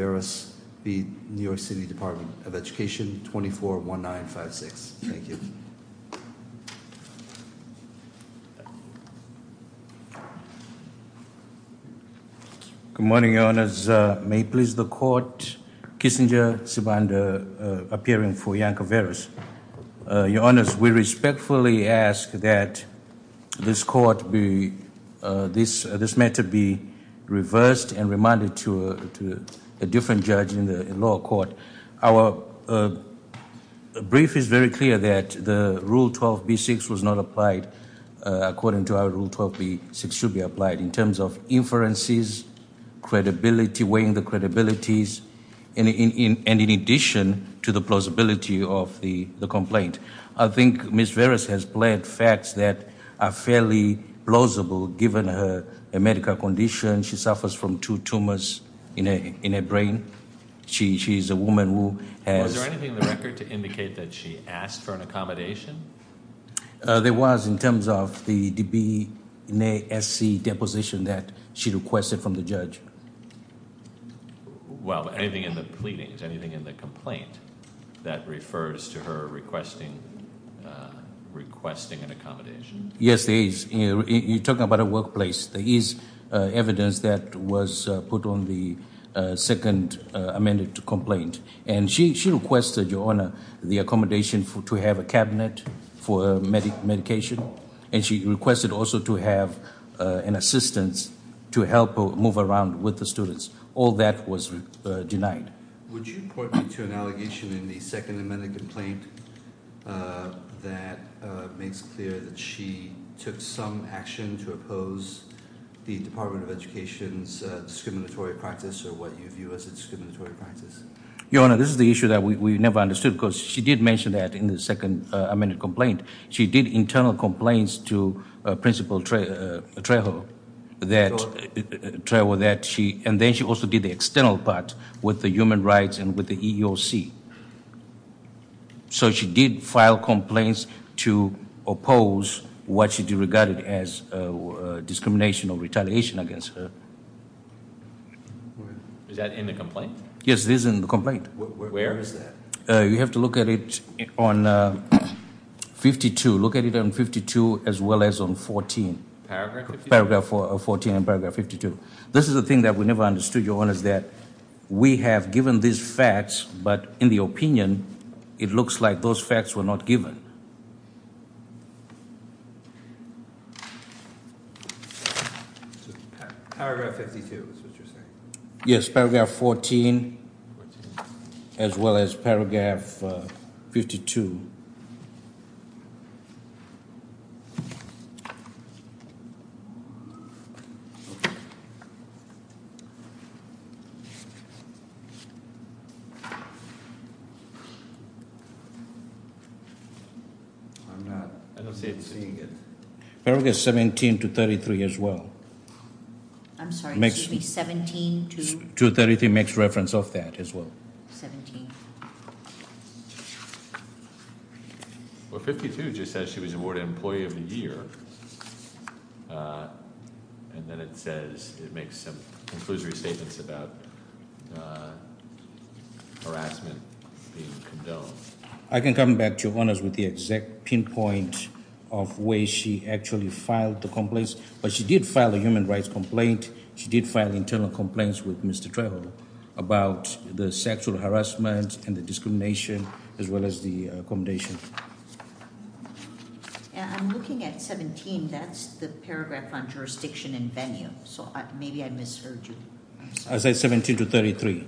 241956. Thank you. Good morning, Your Honors. May it please the Court, Kissinger, Sibanda, appearing for Iancoveros. Your Honors, we respectfully ask that this matter be reversed and remanded to a different judge in the lower court. Our brief is very clear that the Rule 12b-6 was not applied according to our Rule 12b-6 should be applied in terms of inferences, credibility, weighing the credibilities, and in addition to the plausibility of the complaint. I think Ms. Veras has pled facts that are fairly plausible given her medical condition. She suffers from two tumors in her brain. She is a woman who has... Was there anything in the record to indicate that she asked for an accommodation? There was in terms of the DBNA SC deposition that she requested from the judge. Well, anything in the pleadings, anything in the complaint that refers to her requesting an accommodation? Yes, there is. You're talking about a workplace. There is evidence that was put on the second amended complaint. And she requested, Your Honor, the accommodation to have a cabinet for medication. And she requested also to have an assistance to help move around with the students. All that was denied. Would you point me to an allegation in the second amended complaint that makes clear that she took some action to oppose the Department of Education's discriminatory practice or what you view as a discriminatory practice? Your Honor, this is the issue that we never understood because she did mention that in the second amended complaint. She did internal complaints to Principal Trejo, and then she also did the external part with the human rights and with the EEOC. So she did file complaints to oppose what she regarded as discrimination or retaliation against her. Is that in the complaint? Yes, this is in the complaint. Where is that? You have to look at it on 52. Look at it on 52 as well as on 14. Paragraph 52? Paragraph 14 and paragraph 52. This is the thing that we never understood, Your Honor, is that we have given these facts, but in the opinion, it looks like those facts were not given. Paragraph 52 is what you're saying? Yes, paragraph 14 as well as paragraph 52. Paragraph 17 to 33 as well. I'm sorry, it should be 17 to- To 33 makes reference of that as well. 17. Well, 52 just says she was awarded Employee of the Year, and then it says, it makes some conclusory statements about harassment being condoned. I can come back to you, Your Honors, with the exact pinpoint of where she actually filed the complaints, but she did file a human rights complaint. She did file internal complaints with Mr. Trejo about the sexual harassment and the discrimination as well as the accommodation. I'm looking at 17. That's the paragraph on jurisdiction and venue, so maybe I misheard you. I said 17 to 33.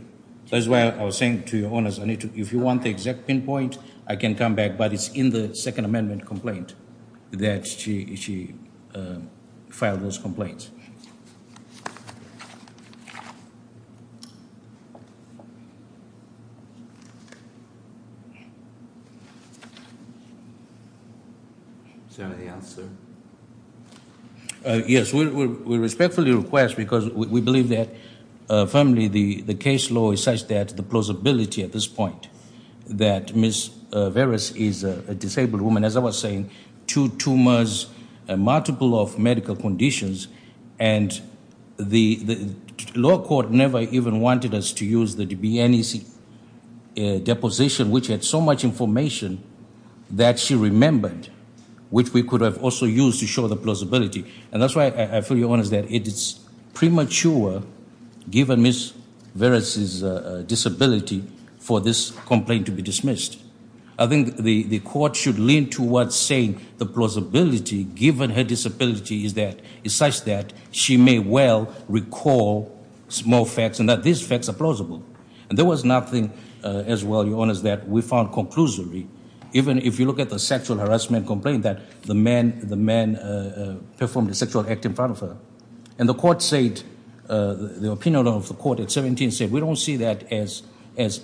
That's why I was saying to Your Honors, if you want the exact pinpoint, I can come back, but it's in the Second Amendment complaint that she filed those complaints. Is there any answer? Yes, we respectfully request, because we believe that, firmly, the case law is such that the plausibility at this point that Ms. Varus is a disabled woman, as I was saying, two tumors, multiple of medical conditions, and the law court never even wanted us to use the DBNC deposition, which had so much information that she remembered, which we could have also used to show the plausibility. And that's why, for Your Honors, it is premature, given Ms. Varus' disability, for this complaint to be dismissed. I think the court should lean towards saying the plausibility, given her disability, is such that she may well recall small facts and that these facts are plausible. And there was nothing, as well, Your Honors, that we found conclusory, even if you look at the sexual harassment complaint that the man performed a sexual act in front of her. And the opinion of the court at 17 said, we don't see that as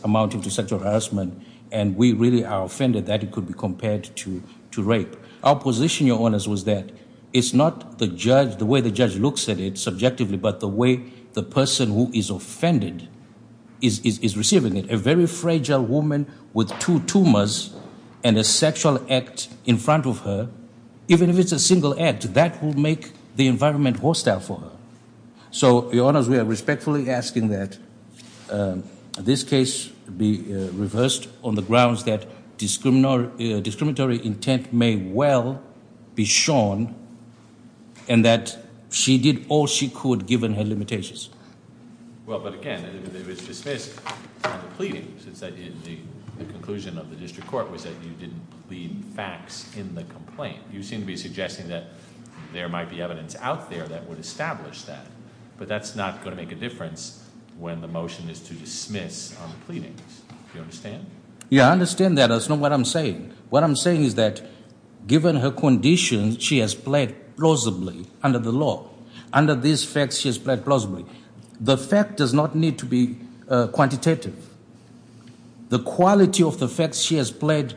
amounting to sexual harassment, and we really are offended that it could be compared to rape. Our position, Your Honors, was that it's not the way the judge looks at it subjectively, but the way the person who is offended is receiving it. A very fragile woman with two tumors and a sexual act in front of her, even if it's a single act, that will make the environment hostile for her. So, Your Honors, we are respectfully asking that this case be reversed on the grounds that discriminatory intent may well be shown and that she did all she could, given her limitations. Well, but again, it was dismissed on the pleadings. The conclusion of the district court was that you didn't plead facts in the complaint. You seem to be suggesting that there might be evidence out there that would establish that. But that's not going to make a difference when the motion is to dismiss on the pleadings. Do you understand? Yeah, I understand that. That's not what I'm saying. What I'm saying is that, given her conditions, she has pled plausibly under the law. Under these facts, she has pled plausibly. The fact does not need to be quantitative. The quality of the facts she has pled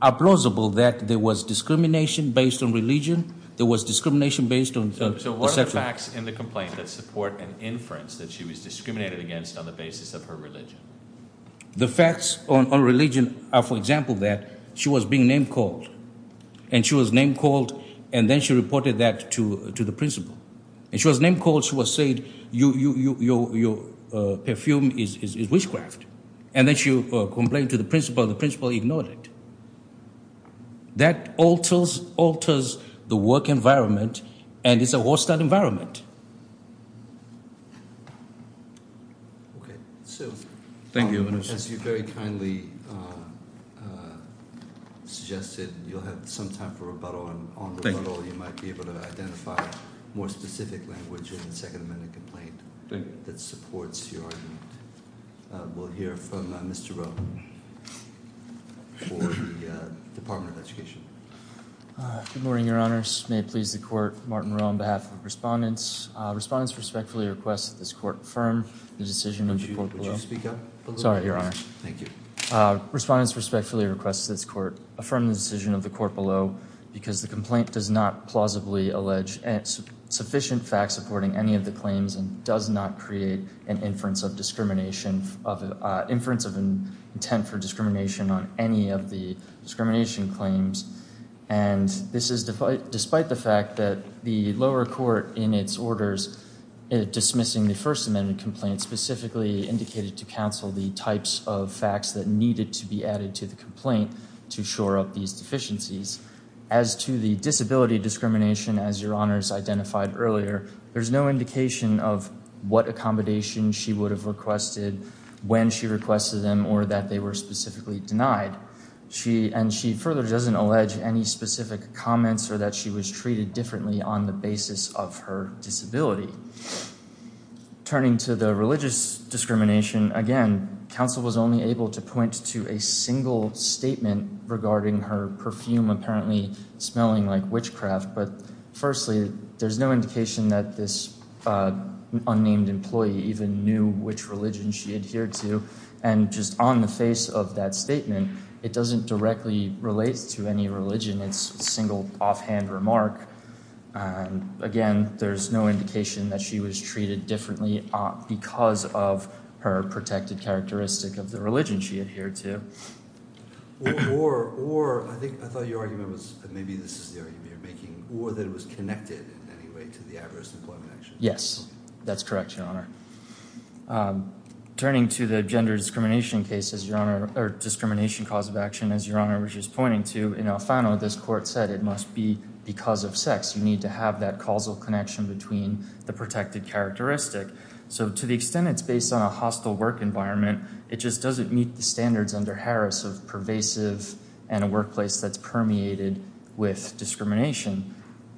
are plausible that there was discrimination based on religion, there was discrimination based on sexual act. So what are the facts in the complaint that support an inference that she was discriminated against on the basis of her religion? The facts on religion are, for example, that she was being name-called, and she was name-called, and then she reported that to the principal. And she was name-called, she was said, your perfume is witchcraft. And then she complained to the principal, and the principal ignored it. That alters the work environment, and it's a war-starved environment. Okay, so as you very kindly suggested, you'll have some time for rebuttal. And on rebuttal, you might be able to identify more specific language in the Second Amendment complaint that supports your argument. We'll hear from Mr. Rowe for the Department of Education. Good morning, Your Honors. May it please the Court, Martin Rowe on behalf of the respondents. Respondents respectfully request that this Court affirm the decision of the court below. Would you speak up a little bit? Sorry, Your Honor. Thank you. Respondents respectfully request that this Court affirm the decision of the court below, because the complaint does not plausibly allege sufficient facts supporting any of the claims and does not create an inference of discrimination, inference of intent for discrimination on any of the discrimination claims. And this is despite the fact that the lower court in its orders dismissing the First Amendment complaint specifically indicated to counsel the types of facts that needed to be added to the complaint to shore up these deficiencies. As to the disability discrimination, as Your Honors identified earlier, there's no indication of what accommodation she would have requested when she requested them or that they were specifically denied. And she further doesn't allege any specific comments or that she was treated differently on the basis of her disability. Turning to the religious discrimination, again, counsel was only able to point to a single statement regarding her perfume apparently smelling like witchcraft. But firstly, there's no indication that this unnamed employee even knew which religion she adhered to. And just on the face of that statement, it doesn't directly relate to any religion. It's a single offhand remark. Again, there's no indication that she was treated differently because of her protected characteristic of the religion she adhered to. Or I think I thought your argument was, maybe this is the argument you're making, or that it was connected in any way to the adverse employment action. Yes, that's correct, Your Honor. Turning to the gender discrimination cause of action, as Your Honor was just pointing to, in Alfano, this court said it must be because of sex. You need to have that causal connection between the protected characteristic. So to the extent it's based on a hostile work environment, it just doesn't meet the standards under Harris of pervasive and a workplace that's permeated with discrimination.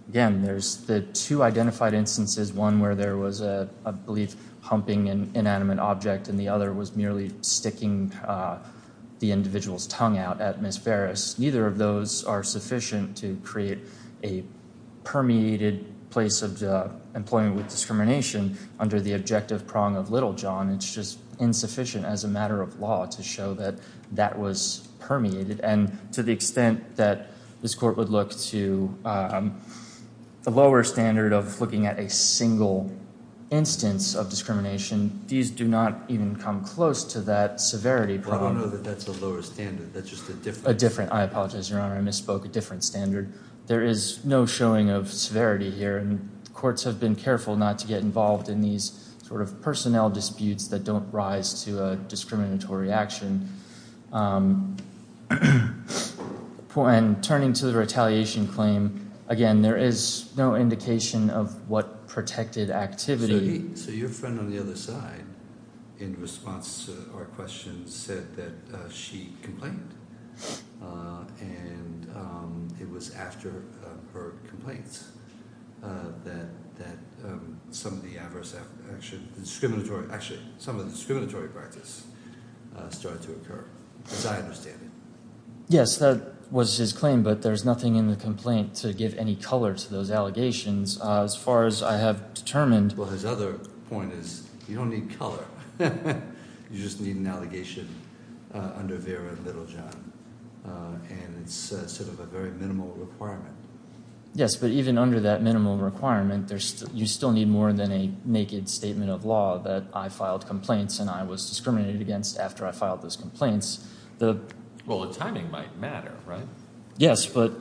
Again, there's the two identified instances, one where there was a, I believe, humping inanimate object and the other was merely sticking the individual's tongue out at Ms. Ferris. Neither of those are sufficient to create a permeated place of employment with discrimination under the objective prong of little John. It's just insufficient as a matter of law to show that that was permeated. And to the extent that this court would look to the lower standard of looking at a single instance of discrimination, these do not even come close to that severity prong. Well, I don't know that that's a lower standard. That's just a different— A different—I apologize, Your Honor. I misspoke. A different standard. There is no showing of severity here, and courts have been careful not to get involved in these sort of personnel disputes that don't rise to a discriminatory action. And turning to the retaliation claim, again, there is no indication of what protected activity— So your friend on the other side, in response to our question, said that she complained, and it was after her complaints that some of the adverse—actually, some of the discriminatory practice started to occur, as I understand it. Yes, that was his claim, but there's nothing in the complaint to give any color to those allegations. As far as I have determined— Well, his other point is you don't need color. You just need an allegation under Vera and little John, and it's sort of a very minimal requirement. Yes, but even under that minimal requirement, you still need more than a naked statement of law that I filed complaints and I was discriminated against after I filed those complaints. Well, the timing might matter, right? Yes, but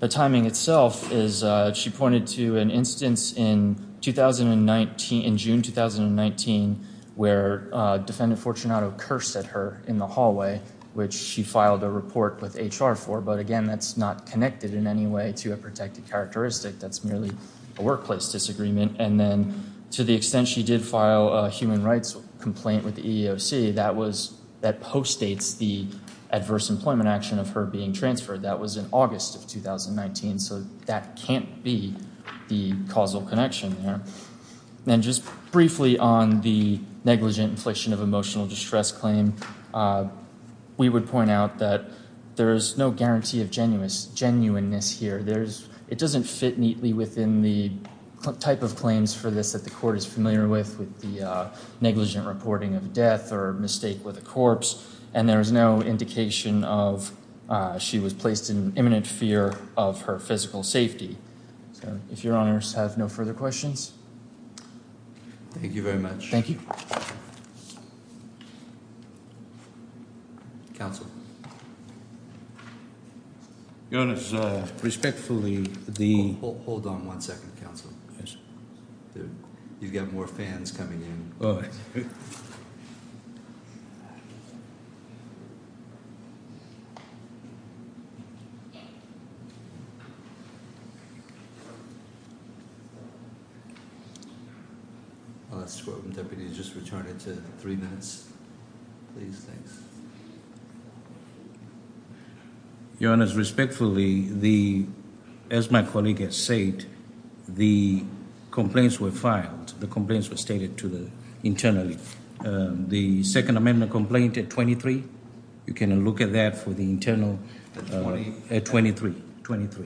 the timing itself is—she pointed to an instance in June 2019 where Defendant Fortunato cursed at her in the hallway, which she filed a report with HR for, but again, that's not connected in any way to a protected characteristic. That's merely a workplace disagreement. And then to the extent she did file a human rights complaint with the EEOC, that postdates the adverse employment action of her being transferred. That was in August of 2019, so that can't be the causal connection there. And just briefly on the negligent infliction of emotional distress claim, we would point out that there is no guarantee of genuineness here. It doesn't fit neatly within the type of claims for this that the court is familiar with, with the negligent reporting of death or mistake with a corpse, and there is no indication of she was placed in imminent fear of her physical safety. So if your honors have no further questions. Thank you very much. Thank you. Counsel. Your Honor, respectfully, the. Hold on one second, Counsel. You've got more fans coming in. The deputies just returned it to three minutes. Please, thanks. Your honors, respectfully, as my colleague has said, the complaints were filed. The complaints were stated internally. The second amendment complaint at 23, you can look at that for the internal. At 23.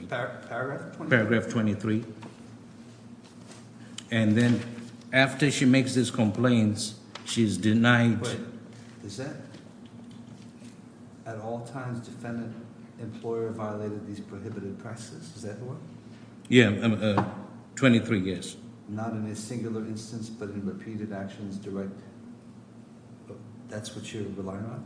Paragraph 23. And then after she makes these complaints, she's denied. Is that? At all times, defendant, employer violated these prohibited practices. Is that what? Yeah, 23, yes. Not in a singular instance, but in repeated actions direct. That's what you rely on.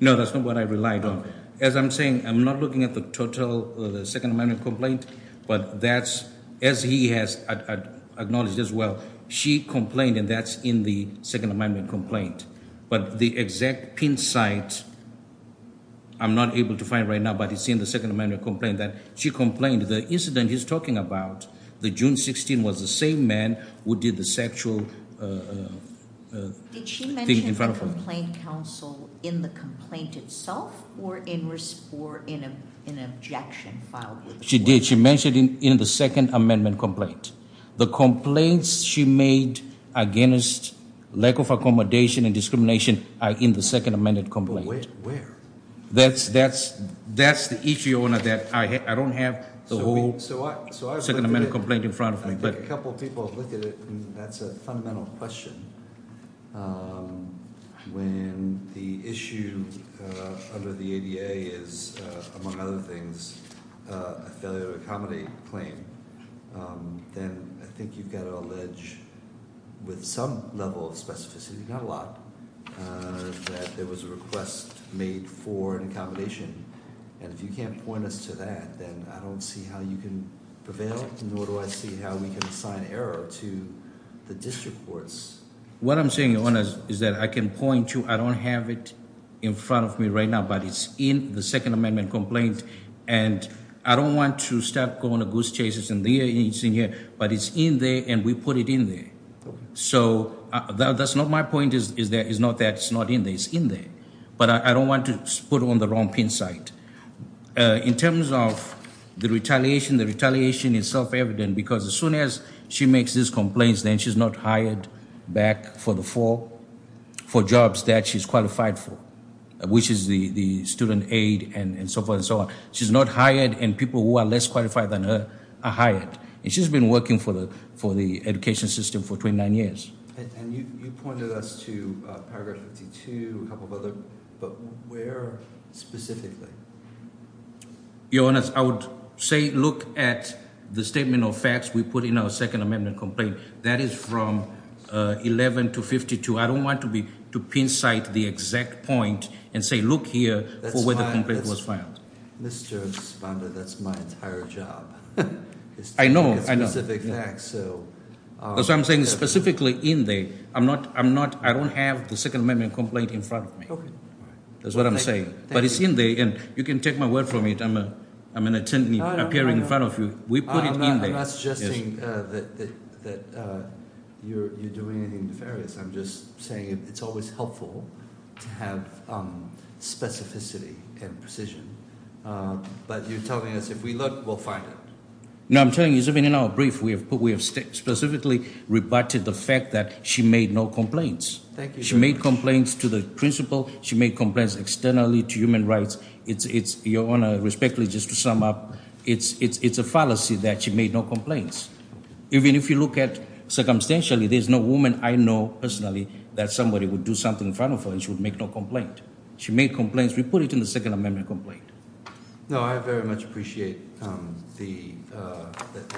No, that's not what I relied on. As I'm saying, I'm not looking at the total of the second amendment complaint. But that's as he has acknowledged as well. She complained, and that's in the second amendment complaint. But the exact pin site. I'm not able to find right now, but it's in the second amendment complaint that she complained. And the incident he's talking about, the June 16th was the same man who did the sexual thing in front of her. Did she mention complaint counsel in the complaint itself? Or in an objection file? She did. She mentioned in the second amendment complaint. The complaints she made against lack of accommodation and discrimination are in the second amendment complaint. Where? That's the issue that I don't have the whole second amendment complaint in front of me. I think a couple people have looked at it, and that's a fundamental question. When the issue under the ADA is, among other things, a failure to accommodate claim, then I think you've got to allege with some level of specificity, not a lot, that there was a request made for an accommodation. And if you can't point us to that, then I don't see how you can prevail, nor do I see how we can assign error to the district courts. What I'm saying, Your Honor, is that I can point to, I don't have it in front of me right now, but it's in the second amendment complaint. And I don't want to start going to goose chases, but it's in there, and we put it in there. So that's not my point, is that it's not in there. It's in there. But I don't want to put it on the wrong pin site. In terms of the retaliation, the retaliation is self-evident, because as soon as she makes these complaints, then she's not hired back for the four jobs that she's qualified for, which is the student aid and so forth and so on. She's not hired, and people who are less qualified than her are hired. And she's been working for the education system for 29 years. And you pointed us to paragraph 52, a couple of other, but where specifically? Your Honor, I would say look at the statement of facts we put in our second amendment complaint. That is from 11 to 52. I don't want to pin site the exact point and say look here for where the complaint was filed. Mr. Esponda, that's my entire job. I know, I know. It's specific facts, so. That's why I'm saying specifically in there. I'm not, I don't have the second amendment complaint in front of me. That's what I'm saying. But it's in there, and you can take my word for it. I'm going to attempt to appear in front of you. We put it in there. I'm not suggesting that you're doing anything nefarious. I'm just saying it's always helpful to have specificity and precision. But you're telling us if we look, we'll find it. No, I'm telling you, even in our brief, we have specifically rebutted the fact that she made no complaints. Thank you. She made complaints to the principal. She made complaints externally to human rights. Your Honor, respectfully, just to sum up, it's a fallacy that she made no complaints. Even if you look at circumstantially, there's no woman I know personally that somebody would do something in front of her and she would make no complaint. She made complaints. We put it in the second amendment complaint. No, I very much appreciate the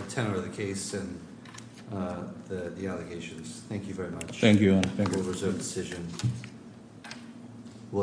tenor of the case and the allegations. Thank you very much. Thank you, Your Honor. Thank you.